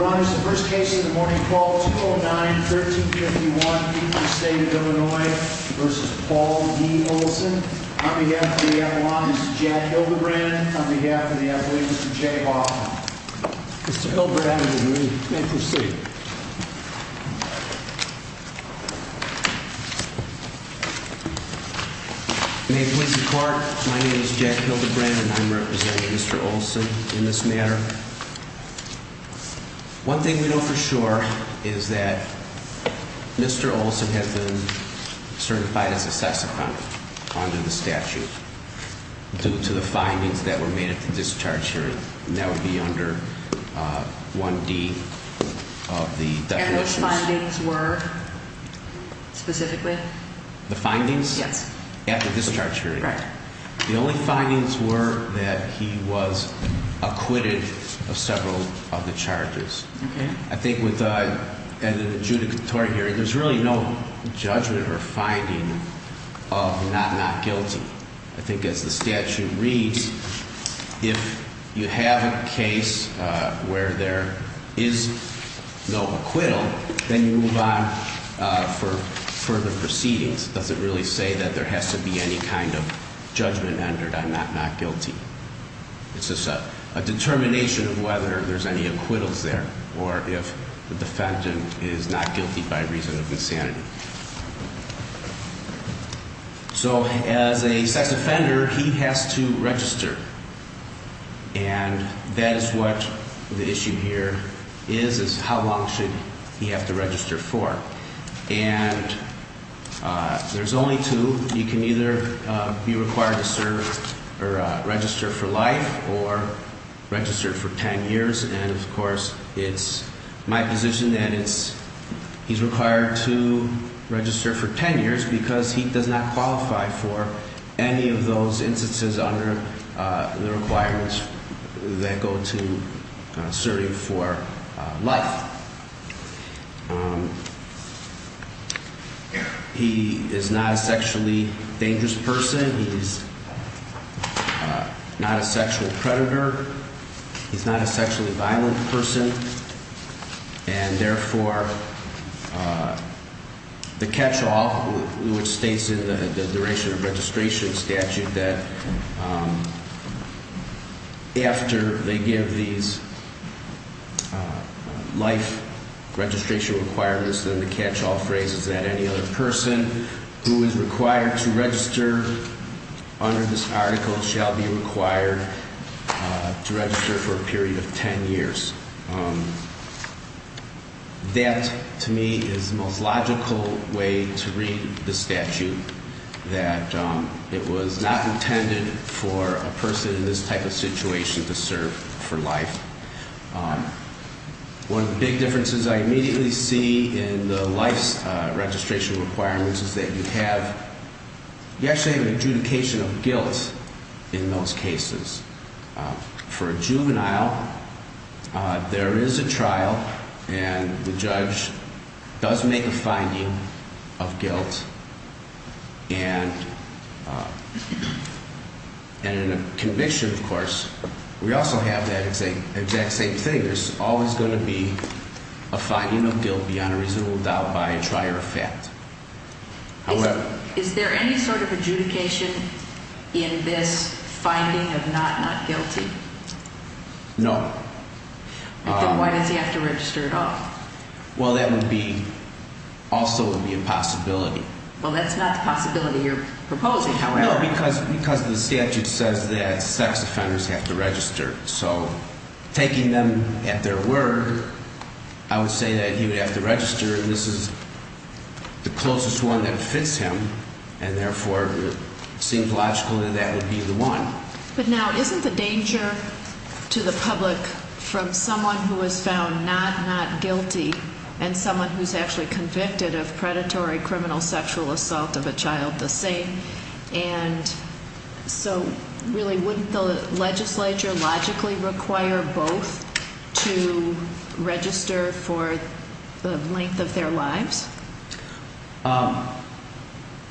Ron is the first case in the morning call 209-1351, Dupree State of Illinois v. Paul D. Olsson. On behalf of the Avalon, Mr. Jack Hildebrandt. On behalf of the Avalon, Mr. Jay Hoffman. Mr. Hildebrandt, you may proceed. My name is Jack Hildebrandt and I'm representing Mr. Olsson in this matter. One thing we know for sure is that Mr. Olsson has been certified as a sex offender under the statute, due to the findings that were made at the discharge hearing. And that would be under 1D of the definitions. And those findings were, specifically? The findings? Yes. At the discharge hearing. Correct. The only findings were that he was acquitted of several of the charges. Okay. I think with the adjudicatory hearing, there's really no judgment or finding of not not guilty. I think as the statute reads, if you have a case where there is no acquittal, then you move on for further proceedings. It doesn't really say that there has to be any kind of judgment entered on not not guilty. It's just a determination of whether there's any acquittals there, or if the defendant is not guilty by reason of insanity. So as a sex offender, he has to register. And that is what the issue here is, is how long should he have to register for? And there's only two. You can either be required to serve or register for life, or register for ten years. And, of course, it's my position that he's required to register for ten years, because he does not qualify for any of those instances under the requirements that go to serving for life. He is not a sexually dangerous person. He's not a sexual predator. He's not a sexually violent person. And, therefore, the catch-all, which states in the duration of registration statute, that after they give these life registration requirements, then the catch-all phrase is that any other person who is required to register under this article shall be required to register for a period of ten years. That, to me, is the most logical way to read the statute, that it was not intended for a person in this type of situation to serve for life. One of the big differences I immediately see in the life registration requirements is that you actually have an adjudication of guilt in those cases. For a juvenile, there is a trial, and the judge does make a finding of guilt. And in a conviction, of course, we also have that exact same thing. There's always going to be a finding of guilt beyond a reasonable doubt by a trier of fact. However... Is there any sort of adjudication in this finding of not not guilty? No. Then why does he have to register at all? Well, that would be also would be a possibility. Well, that's not the possibility you're proposing, however. No, because the statute says that sex offenders have to register. So taking them at their word, I would say that he would have to register, and this is the closest one that fits him, and therefore it seems logical that that would be the one. But now isn't the danger to the public from someone who is found not not guilty and someone who's actually convicted of predatory criminal sexual assault of a child the same? And so really wouldn't the legislature logically require both to register for the length of their lives? No.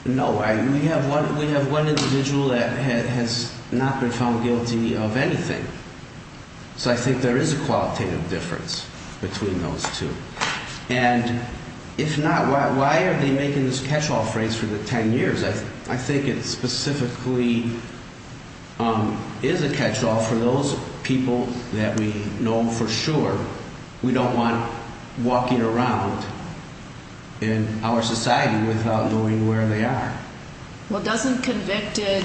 We have one individual that has not been found guilty of anything. So I think there is a qualitative difference between those two. And if not, why are they making this catch-all phrase for the 10 years? I think it specifically is a catch-all for those people that we know for sure. We don't want walking around in our society without knowing where they are. Well, doesn't convicted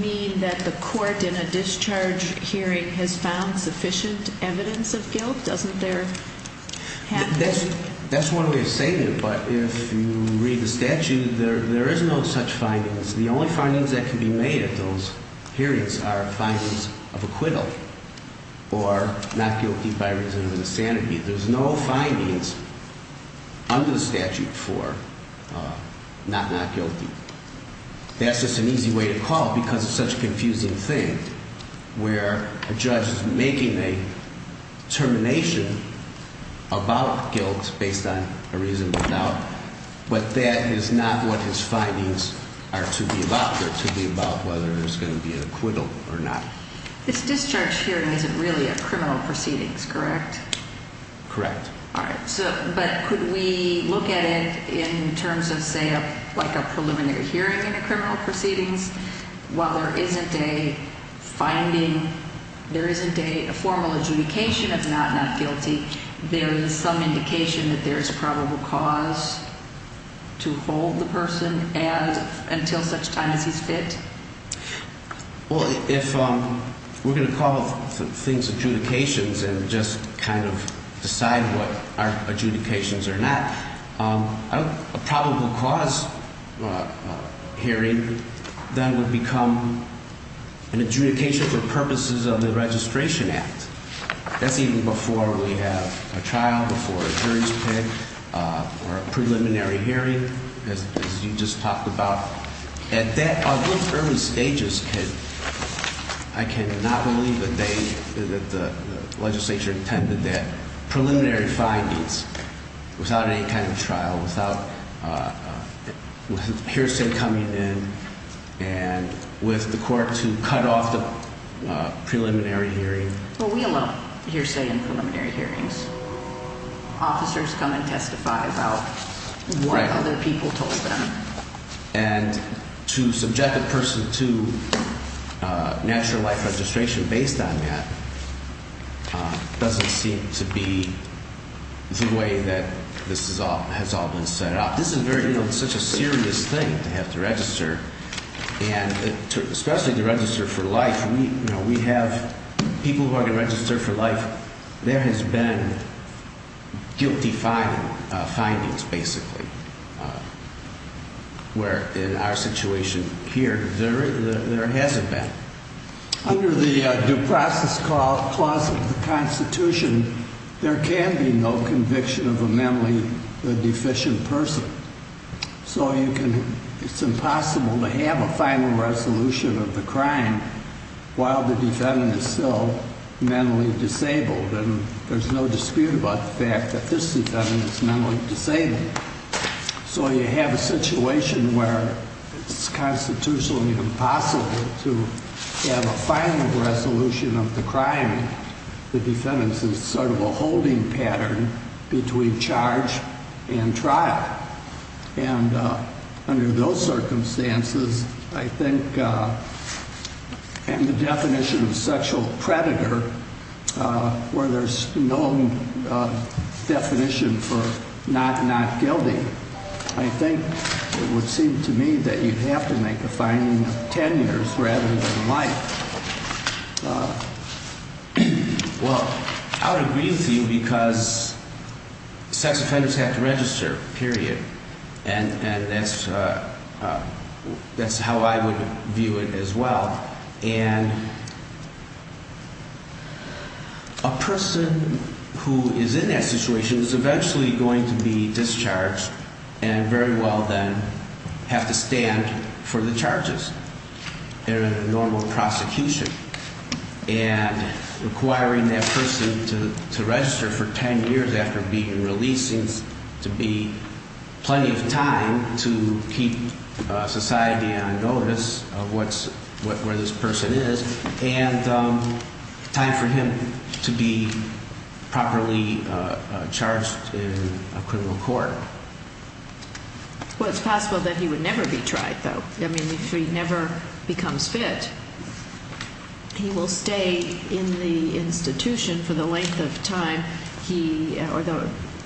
mean that the court in a discharge hearing has found sufficient evidence of guilt? Doesn't there have to be? That's one way of saying it, but if you read the statute, there is no such findings. The only findings that can be made at those hearings are findings of acquittal or not guilty by reason of insanity. There's no findings under the statute for not not guilty. That's just an easy way to call it because it's such a confusing thing where a judge is making a determination about guilt based on a reasonable doubt, but that is not what his findings are to be about. They're to be about whether there's going to be an acquittal or not. This discharge hearing isn't really a criminal proceedings, correct? Correct. All right. But could we look at it in terms of, say, like a preliminary hearing in a criminal proceedings while there isn't a finding, there isn't a formal adjudication of not not guilty, there is some indication that there is probable cause to hold the person until such time as he's fit? Well, if we're going to call things adjudications and just kind of decide what are adjudications or not, a probable cause hearing then would become an adjudication for purposes of the Registration Act. That's even before we have a trial, before a jury's pick, or a preliminary hearing as you just talked about. At that early stages, I cannot believe that the legislature intended that preliminary findings, without any kind of trial, without hearsay coming in, and with the court to cut off the preliminary hearing. Well, we allow hearsay in preliminary hearings. Officers come and testify about what other people told them. And to subject a person to natural life registration based on that doesn't seem to be the way that this has all been set up. This is very, you know, such a serious thing to have to register, and especially to register for life. You know, we have people who are going to register for life. There has been guilty findings, basically, where in our situation here, there hasn't been. Under the due process clause of the Constitution, there can be no conviction of a mentally deficient person. So you can, it's impossible to have a final resolution of the crime while the defendant is still mentally disabled. And there's no dispute about the fact that this defendant is mentally disabled. So you have a situation where it's constitutionally impossible to have a final resolution of the crime. The defendant is sort of a holding pattern between charge and trial. And under those circumstances, I think, and the definition of sexual predator, where there's no definition for not not guilty, I think it would seem to me that you'd have to make a finding of 10 years rather than life. Well, I would agree with you because sex offenders have to register, period. And that's how I would view it as well. And a person who is in that situation is eventually going to be discharged and very well then have to stand for the charges. They're in a normal prosecution. And requiring that person to register for 10 years after being released seems to be plenty of time to keep society on notice of where this person is. And time for him to be properly charged in a criminal court. Well, it's possible that he would never be tried though. I mean, if he never becomes fit, he will stay in the institution for the length of time,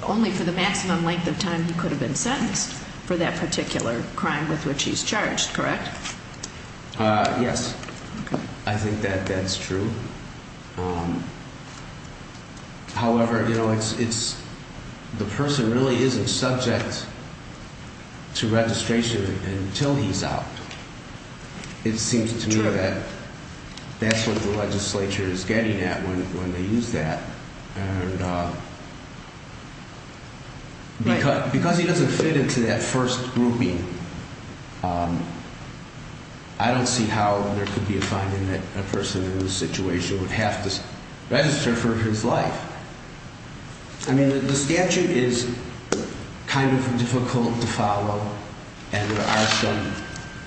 only for the maximum length of time he could have been sentenced for that particular crime with which he's charged, correct? Yes. I think that that's true. However, you know, it's the person really isn't subject to registration until he's out. It seems to me that that's what the legislature is getting at when they use that. And because he doesn't fit into that first grouping, I don't see how there could be a finding that a person in this situation would have to register for his life. I mean, the statute is kind of difficult to follow, and there are some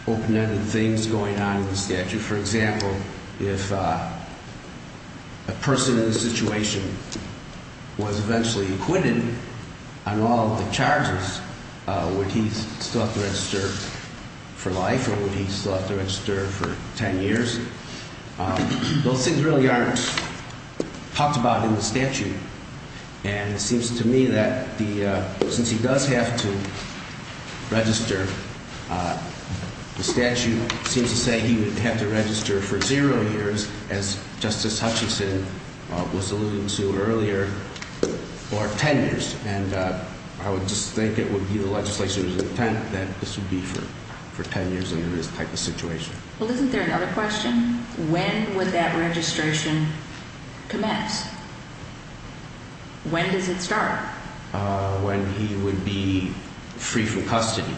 open-ended things going on in the statute. For example, if a person in this situation was eventually acquitted on all the charges, would he still have to register for life or would he still have to register for 10 years? Those things really aren't talked about in the statute. And it seems to me that since he does have to register, the statute seems to say he would have to register for zero years, as Justice Hutchinson was alluding to earlier, or 10 years. And I would just think it would be the legislature's intent that this would be for 10 years under this type of situation. Well, isn't there another question? When would that registration commence? When does it start? When he would be free from custody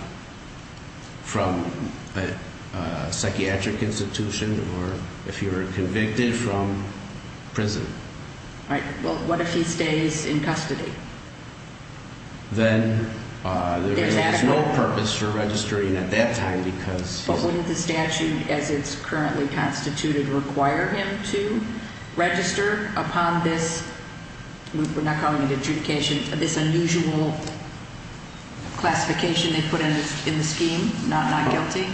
from a psychiatric institution or if he were convicted from prison. Right. Well, what if he stays in custody? Then there is no purpose for registering at that time because… Would the statute, as it's currently constituted, require him to register upon this – we're not calling it an adjudication – this unusual classification they put in the scheme, not guilty?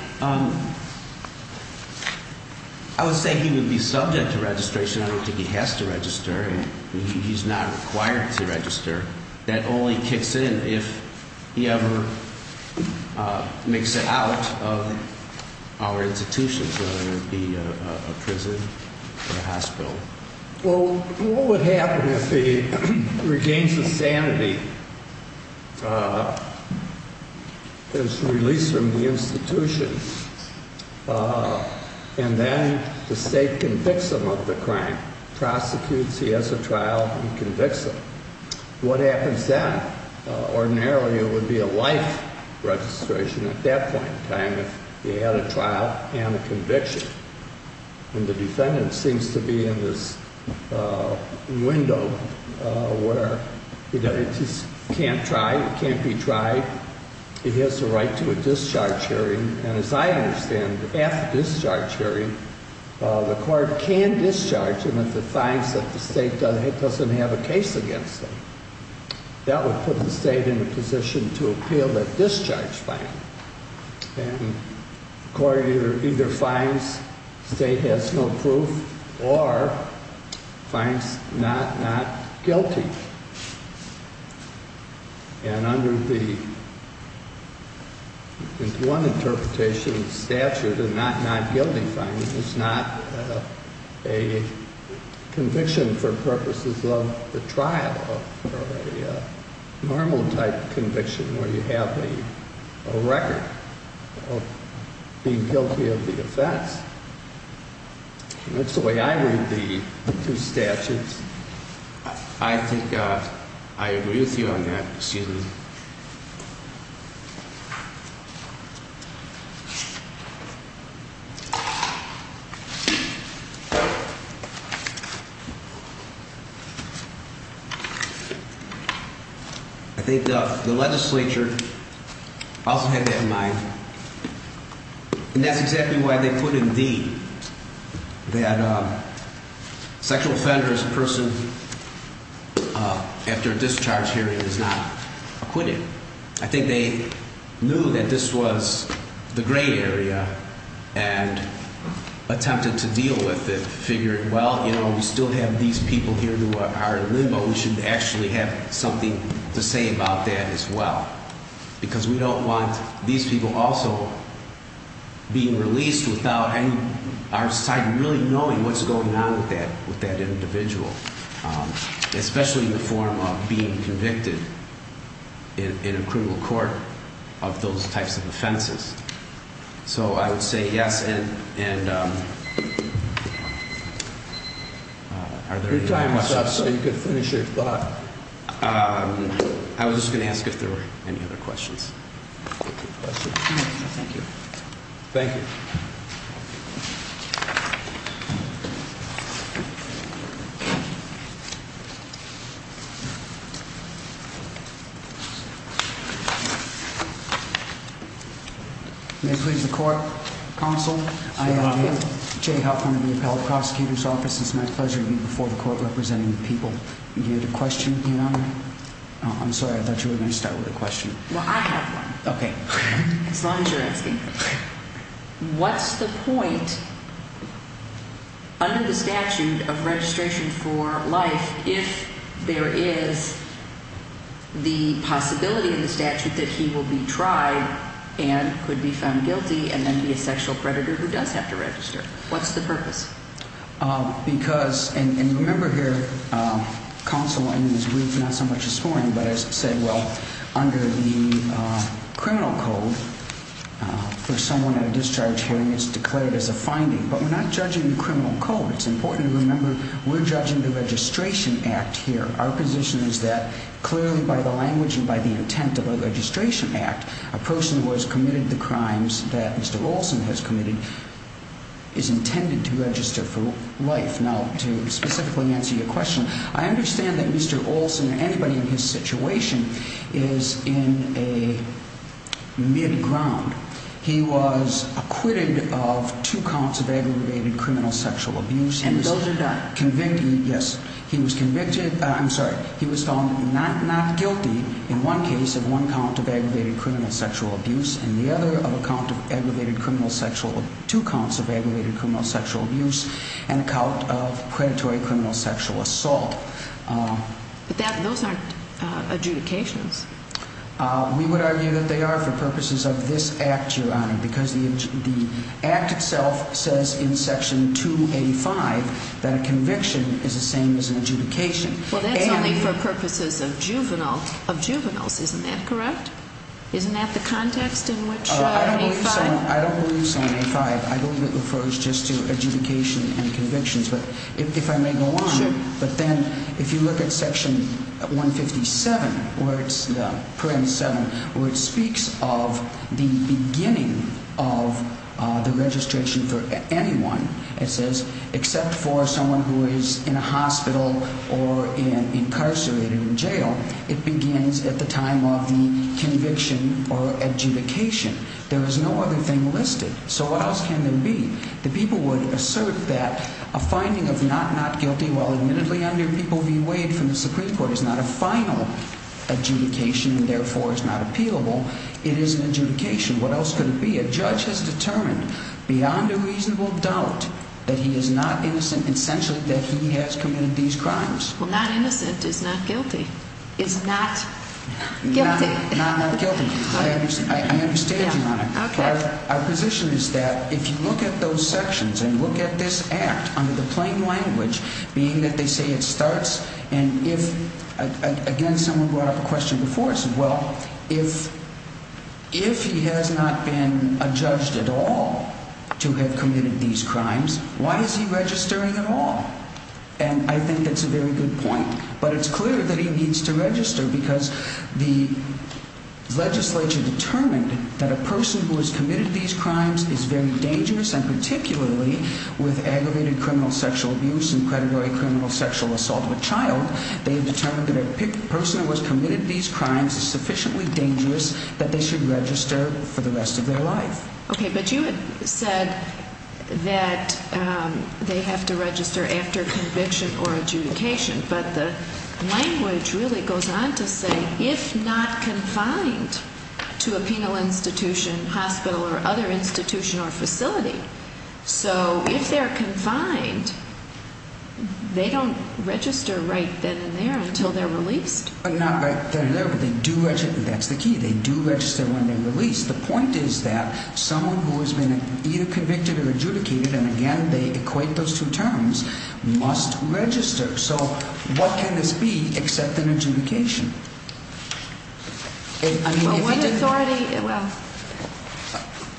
I would say he would be subject to registration. I don't think he has to register. He's not required to register. That only kicks in if he ever makes it out of our institutions, whether it be a prison or a hospital. Well, what would happen if he regains his sanity, is released from the institution, and then the state convicts him of the crime, prosecutes, he has a trial, and convicts him? What happens then? Ordinarily, it would be a life registration at that point in time if he had a trial and a conviction. And the defendant seems to be in this window where he can't try, he can't be tried, he has the right to a discharge hearing. And as I understand, after the discharge hearing, the court can discharge him if it finds that the state doesn't have a case against him. That would put the state in a position to appeal that discharge fine. And the court either finds the state has no proof or finds Knott not guilty. And under the one interpretation of the statute, a Knott not guilty fine is not a conviction for purposes of the trial, a normal type conviction where you have a record of being guilty of the offense. That's the way I read the two statutes. I think I agree with you on that. Excuse me. I think the legislature also had that in mind, and that's exactly why they put in D that a sexual offender as a person after a discharge hearing is not acquitted. I think they knew that this was the gray area and attempted to deal with it, figuring, well, you know, we still have these people here who are in limbo, we should actually have something to say about that as well. Because we don't want these people also being released without our side really knowing what's going on with that individual, especially in the form of being convicted in a criminal court of those types of offenses. So I would say yes. And, um, I was just going to ask if there were any other questions. Thank you. Counsel. I am Jay Hoffman of the Appellate Prosecutor's Office. It's my pleasure to be before the court representing the people. You had a question? I'm sorry. I thought you were going to start with a question. Okay. As long as you're asking. What's the point under the statute of registration for life if there is the possibility in the statute that he will be tried and could be found guilty and then be a sexual predator who does have to register? What's the purpose? Because, and remember here, counsel, in his brief, not so much this morning, but as I said, well, under the criminal code, for someone at a discharge hearing, it's declared as a finding. But we're not judging the criminal code. It's important to remember we're judging the registration act here. Our position is that clearly by the language and by the intent of a registration act, a person who has committed the crimes that Mr. Olson has committed is intended to register for life. Now, to specifically answer your question, I understand that Mr. Olson or anybody in his situation is in a mid-ground. He was acquitted of two counts of aggravated criminal sexual abuse. And those are not? We would argue that they are for purposes of this act, Your Honor, because the act itself says in section 285 that a convicted person is found not guilty in one case of one count of aggravated criminal sexual abuse and the other of a count of aggravated criminal sexual – two counts of aggravated criminal sexual abuse and a count of predatory criminal sexual assault. But those aren't adjudications. We would argue that they are for purposes of this act, Your Honor, because the act itself says in section 285 that a conviction is the same as an adjudication. Well, that's only for purposes of juvenile – of juveniles. Isn't that correct? Isn't that the context in which – I don't believe so in A5. I believe it refers just to adjudication and convictions. But if I may go on. Sure. But then if you look at section 157, where it's – paragraph 7, where it speaks of the beginning of the registration for anyone, it says, except for someone who is in a hospital or incarcerated in jail, it begins at the time of the conviction or adjudication. There is no other thing listed. So what else can there be? The people would assert that a finding of not not guilty while admittedly under People v. Wade from the Supreme Court is not a final adjudication and therefore is not appealable. It is an adjudication. What else could it be? A judge has determined beyond a reasonable doubt that he is not innocent and essentially that he has committed these crimes. Well, not innocent is not guilty. Is not guilty. Not not guilty. I understand you on it. Okay. Our position is that if you look at those sections and look at this act under the plain language, being that they say it starts and if – again, someone brought up a question before us. Well, if he has not been adjudged at all to have committed these crimes, why is he registering at all? And I think that's a very good point. But it's clear that he needs to register because the legislature determined that a person who has committed these crimes is very dangerous and particularly with aggravated criminal sexual abuse and predatory criminal sexual assault of a child, they have determined that a person who has committed these crimes is sufficiently dangerous that they should register for the rest of their life. Okay. But you had said that they have to register after conviction or adjudication. But the language really goes on to say if not confined to a penal institution, hospital or other institution or facility, so if they're confined, they don't register right then and there until they're released? Not right then and there, but they do – that's the key. They do register when they're released. The point is that someone who has been either convicted or adjudicated, and again, they equate those two terms, must register. So what can this be except an adjudication?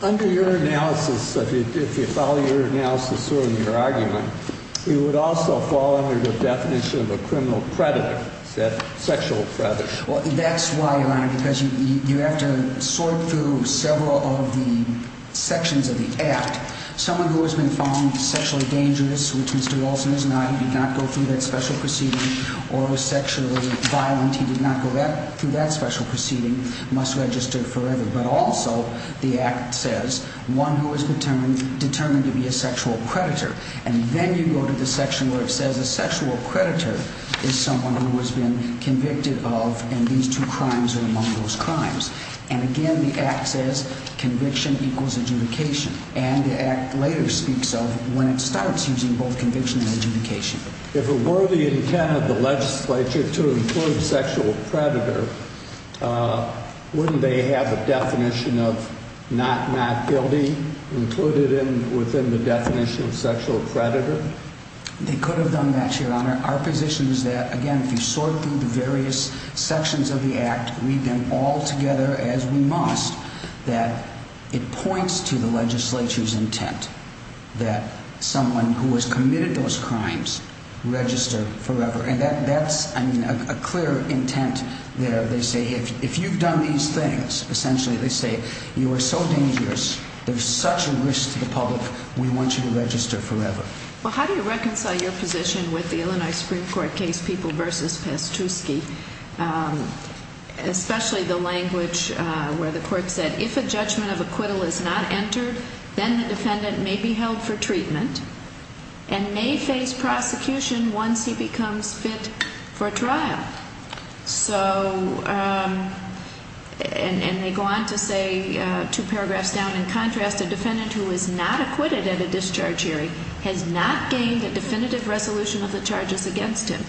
Under your analysis, if you follow your analysis or your argument, it would also fall under the definition of a criminal predator, a sexual predator. Well, that's why, Your Honor, because you have to sort through several of the sections of the Act. Someone who has been found sexually dangerous, which Mr. Wilson is not, he did not go through that special proceeding, or was sexually violent, he did not go through that special proceeding, must register forever. But also the Act says one who is determined to be a sexual predator. And then you go to the section where it says a sexual predator is someone who has been convicted of, and these two crimes are among those crimes. And again, the Act says conviction equals adjudication. And the Act later speaks of when it starts using both conviction and adjudication. If it were the intent of the legislature to include sexual predator, wouldn't they have a definition of not guilty included within the definition of sexual predator? They could have done that, Your Honor. Our position is that, again, if you sort through the various sections of the Act, read them all together as we must, that it points to the legislature's intent that someone who has committed those crimes register forever. And that's a clear intent there. If you've done these things, essentially they say, you are so dangerous, there's such a risk to the public, we want you to register forever. Well, how do you reconcile your position with the Illinois Supreme Court case People v. Pastusky, especially the language where the court said, if a judgment of acquittal is not entered, then the defendant may be held for treatment and may face prosecution once he becomes fit for trial. And they go on to say, two paragraphs down, in contrast, a defendant who is not acquitted at a discharge hearing has not gained a definitive resolution of the charges against him.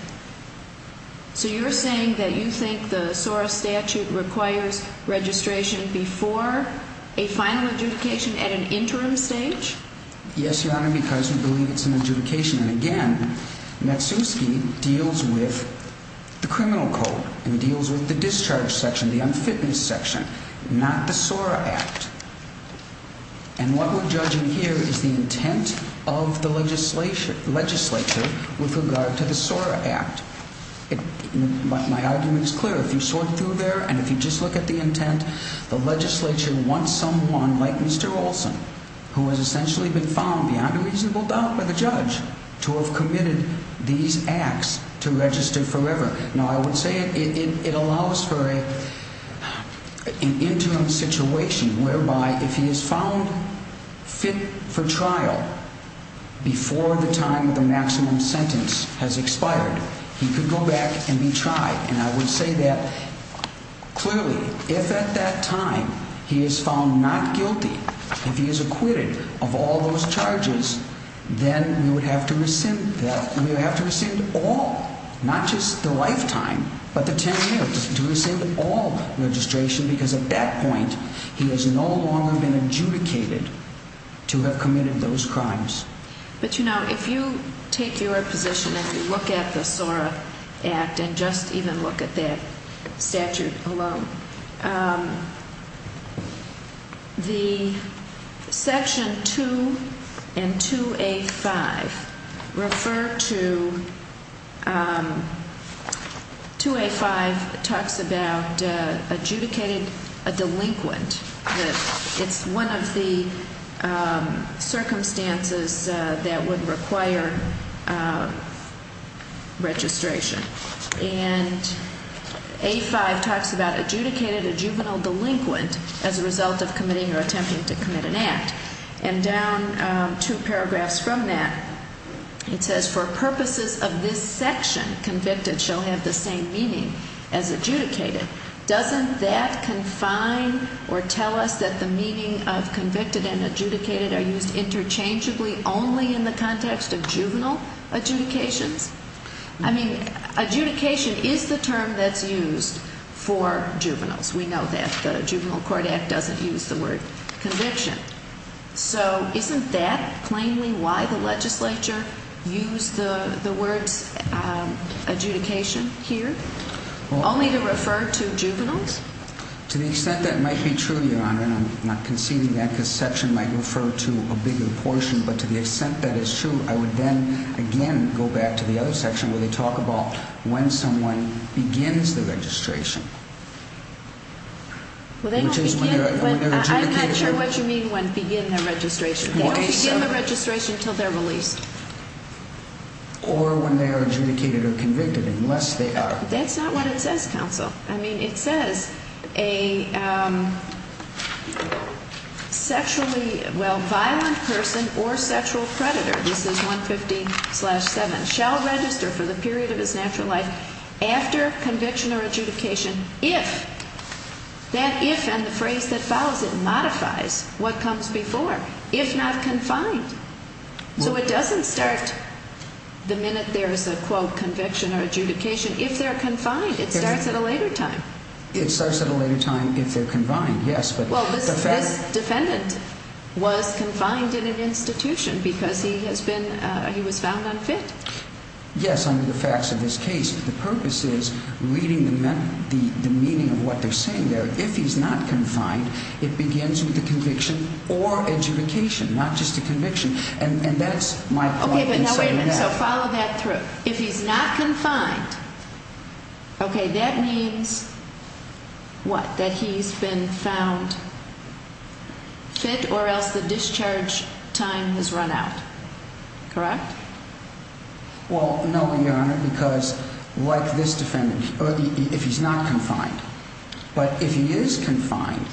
So you're saying that you think the SORA statute requires registration before a final adjudication at an interim stage? Yes, Your Honor, because we believe it's an adjudication. And again, Matsuski deals with the criminal code and deals with the discharge section, the unfitness section, not the SORA Act. And what we're judging here is the intent of the legislature with regard to the SORA Act. My argument is clear. If you sort through there and if you just look at the intent, the legislature wants someone like Mr. Olson, who has essentially been found beyond a reasonable doubt by the judge, to have committed these acts to register forever. Now, I would say it allows for an interim situation whereby if he is found fit for trial before the time of the maximum sentence has expired, he could go back and be tried. And I would say that, clearly, if at that time he is found not guilty, if he is acquitted of all those charges, then we would have to rescind all, not just the lifetime, but the 10 years to rescind all registration because at that point he has no longer been adjudicated to have committed those crimes. But, you know, if you take your position and you look at the SORA Act and just even look at that statute alone, the Section 2 and 2A-5 refer to – 2A-5 talks about adjudicated a delinquent. It's one of the circumstances that would require registration. And A-5 talks about adjudicated a juvenile delinquent as a result of committing or attempting to commit an act. And down two paragraphs from that, it says, for purposes of this section, convicted shall have the same meaning as adjudicated. Doesn't that confine or tell us that the meaning of convicted and adjudicated are used interchangeably only in the context of juvenile adjudications? I mean, adjudication is the term that's used for juveniles. We know that the Juvenile Court Act doesn't use the word conviction. So isn't that plainly why the legislature used the words adjudication here? Only to refer to juveniles? To the extent that might be true, Your Honor, and I'm not conceding that because section might refer to a bigger portion, but to the extent that it's true, I would then again go back to the other section where they talk about when someone begins the registration. Well, they don't begin, but I'm not sure what you mean when begin their registration. They don't begin their registration until they're released. Or when they are adjudicated or convicted, unless they are. Well, that's not what it says, counsel. I mean, it says a sexually, well, violent person or sexual predator, this is 150-7, shall register for the period of his natural life after conviction or adjudication if, that if and the phrase that follows it, modifies what comes before, if not confined. So it doesn't start the minute there's a quote conviction or adjudication. If they're confined, it starts at a later time. It starts at a later time if they're confined, yes. Well, this defendant was confined in an institution because he has been, he was found unfit. Yes, under the facts of this case. The purpose is reading the meaning of what they're saying there. If he's not confined, it begins with the conviction or adjudication, not just a conviction. And that's my point in saying that. So follow that through. If he's not confined, okay, that means what? That he's been found fit or else the discharge time has run out. Correct? Well, no, Your Honor, because like this defendant, if he's not confined, but if he is confined,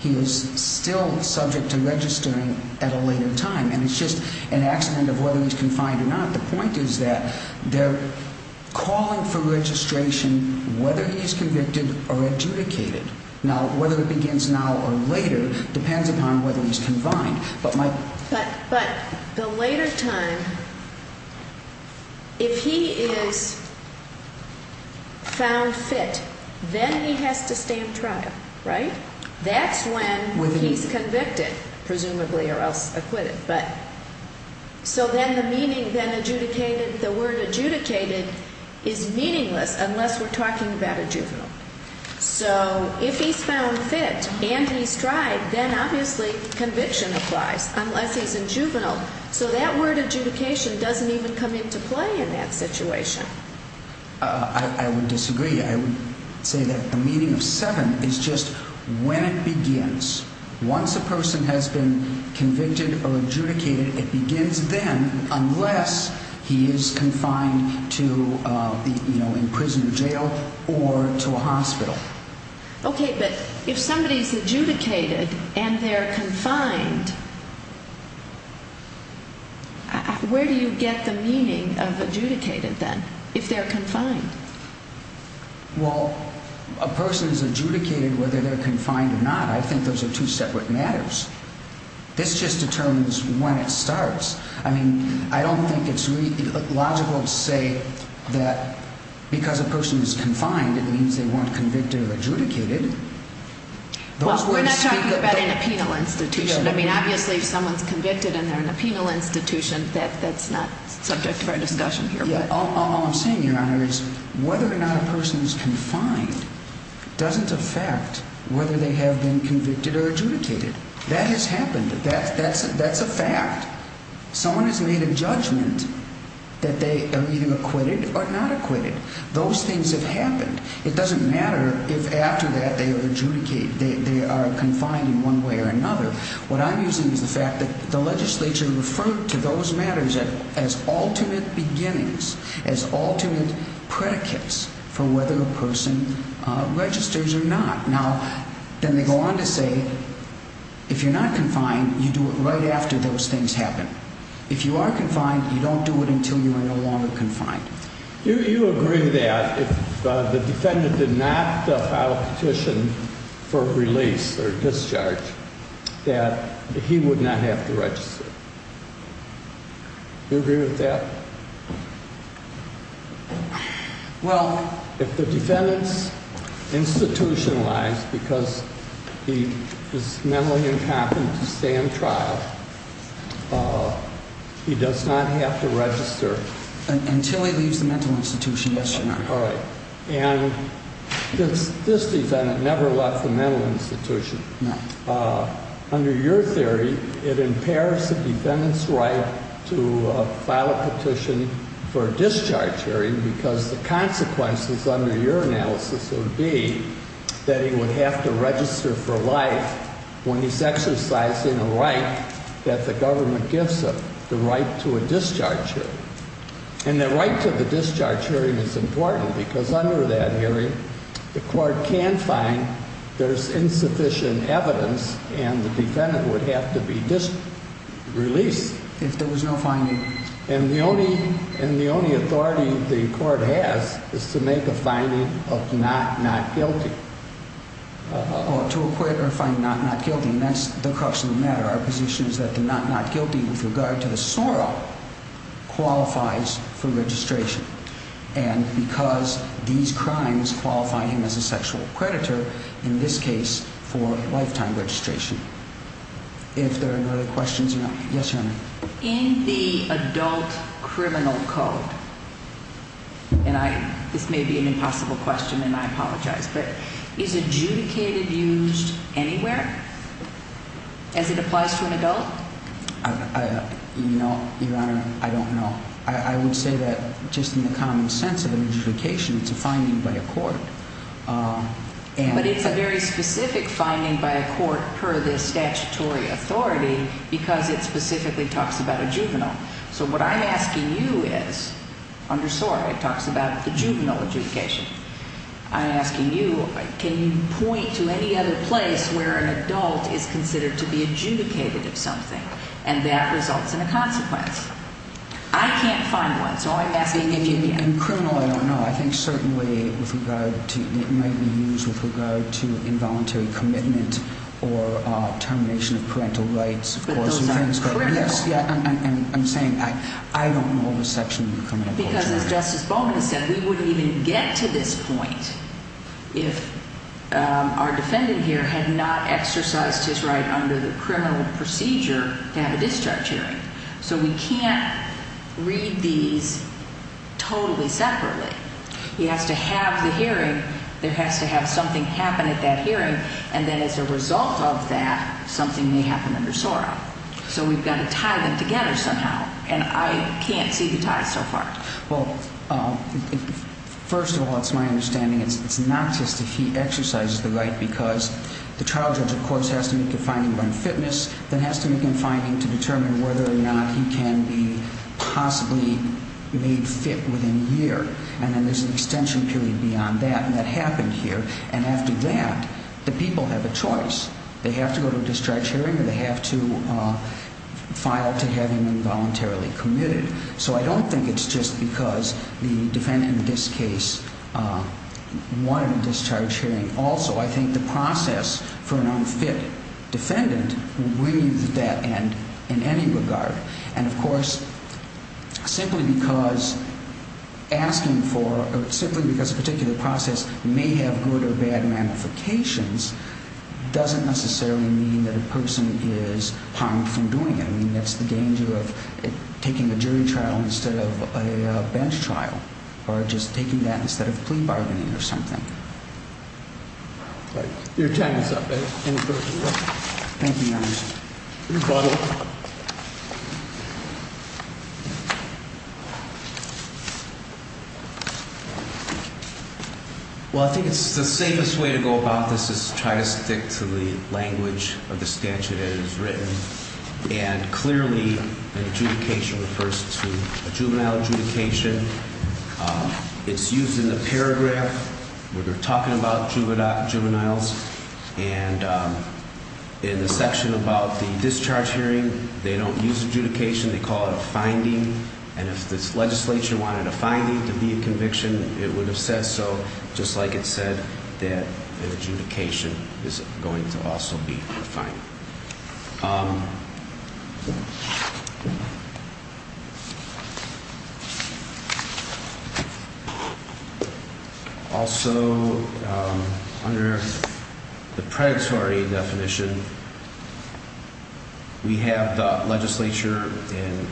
he is still subject to registering at a later time. And it's just an accident of whether he's confined or not. The point is that they're calling for registration, whether he's convicted or adjudicated. Now, whether it begins now or later depends upon whether he's confined. But the later time, if he is found fit, then he has to stay in trial, right? That's when he's convicted, presumably, or else acquitted. So then the meaning, then adjudicated, the word adjudicated is meaningless unless we're talking about a juvenile. So if he's found fit and he's tried, then obviously conviction applies, unless he's a juvenile. So that word adjudication doesn't even come into play in that situation. I would disagree. I would say that the meaning of seven is just when it begins. Once a person has been convicted or adjudicated, it begins then, unless he is confined to the, you know, in prison or jail or to a hospital. Okay, but if somebody's adjudicated and they're confined, where do you get the meaning of adjudicated then, if they're confined? Well, a person is adjudicated whether they're confined or not. I think those are two separate matters. This just determines when it starts. I mean, I don't think it's really logical to say that because a person is confined, it means they weren't convicted or adjudicated. Well, we're not talking about in a penal institution. I mean, obviously if someone's convicted and they're in a penal institution, that's not subject to our discussion here. All I'm saying, Your Honor, is whether or not a person is confined doesn't affect whether they have been convicted or adjudicated. That has happened. That's a fact. Someone has made a judgment that they are either acquitted or not acquitted. Those things have happened. It doesn't matter if after that they are adjudicated, they are confined in one way or another. What I'm using is the fact that the legislature referred to those matters as ultimate beginnings, as ultimate predicates for whether a person registers or not. Now, then they go on to say, if you're not confined, you do it right after those things happen. If you are confined, you don't do it until you are no longer confined. Do you agree that if the defendant did not file a petition for release or discharge, that he would not have to register? Do you agree with that? Well... If the defendant's institutionalized because he is mentally incapacitated to stay in trial, he does not have to register. Until he leaves the mental institution, yes, Your Honor. All right. And this defendant never left the mental institution. No. Under your theory, it impairs the defendant's right to file a petition for a discharge hearing because the consequences under your analysis would be that he would have to register for life when he's exercising a right that the government gives him, the right to a discharge hearing. And the right to the discharge hearing is important because under that hearing, the court can find there's insufficient evidence and the defendant would have to be released. If there was no finding. And the only authority the court has is to make a finding of not not guilty. To acquit or find not not guilty. And that's the crux of the matter. Our position is that the not not guilty with regard to the sorrow qualifies for registration. And because these crimes qualify him as a sexual predator, in this case, for lifetime registration. If there are no other questions, Your Honor. Yes, Your Honor. In the adult criminal code. And I this may be an impossible question, and I apologize, but is adjudicated used anywhere? As it applies to an adult. You know, Your Honor, I don't know. I would say that just in the common sense of the notification, it's a finding by a court. But it's a very specific finding by a court per the statutory authority because it specifically talks about a juvenile. So what I'm asking you is undersore. It talks about the juvenile adjudication. I'm asking you, can you point to any other place where an adult is considered to be adjudicated of something? And that results in a consequence. I can't find one. In criminal, I don't know. I think certainly it might be used with regard to involuntary commitment or termination of parental rights. But those are critical. I'm saying I don't know the section. Because as Justice Baldwin said, we wouldn't even get to this point if our defendant here had not exercised his right under the criminal procedure to have a discharge hearing. So we can't read these totally separately. He has to have the hearing. There has to have something happen at that hearing. And then as a result of that, something may happen under SORA. So we've got to tie them together somehow. And I can't see the ties so far. Well, first of all, it's my understanding it's not just if he exercises the right because the trial judge, of course, has to make a finding on fitness. It has to make a finding to determine whether or not he can be possibly made fit within a year. And then there's an extension period beyond that. And that happened here. And after that, the people have a choice. They have to go to a discharge hearing or they have to file to have him involuntarily committed. So I don't think it's just because the defendant in this case wanted a discharge hearing. Also, I think the process for an unfit defendant will bring you to that end in any regard. And, of course, simply because asking for or simply because a particular process may have good or bad ramifications doesn't necessarily mean that a person is harmed from doing it. I mean, that's the danger of taking a jury trial instead of a bench trial or just taking that instead of plea bargaining or something. You're tying us up. Thank you, Your Honor. You're welcome. Well, I think it's the safest way to go about this is to try to stick to the language of the statute as it's written. And clearly, an adjudication refers to a juvenile adjudication. It's used in the paragraph where they're talking about juveniles. And in the section about the discharge hearing, they don't use adjudication. They call it a finding. And if this legislature wanted a finding to be a conviction, it would have said so, just like it said that an adjudication is going to also be a finding. Also, under the predatory definition, we have the legislature in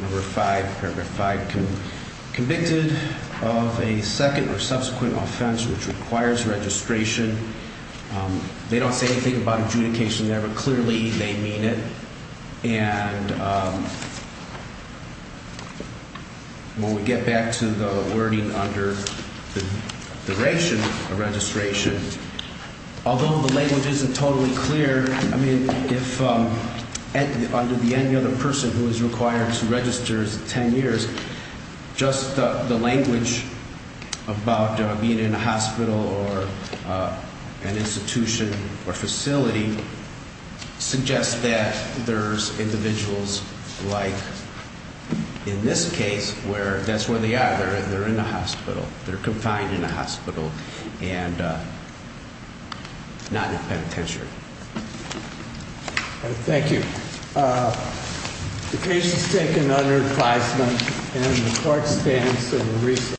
number five, paragraph five, convicted of a second or subsequent offense which requires registration. They don't say anything about adjudication there, but clearly they mean it. And when we get back to the wording under the duration of registration, although the language isn't totally clear, I mean, if under the any other person who is required to register as 10 years, just the language about being in a hospital or an institution or facility suggests that there's individuals like in this case where that's where they are. They're in a hospital. They're confined in a hospital and not in a penitentiary. Thank you. The case is taken under advisement and the court stands in recess.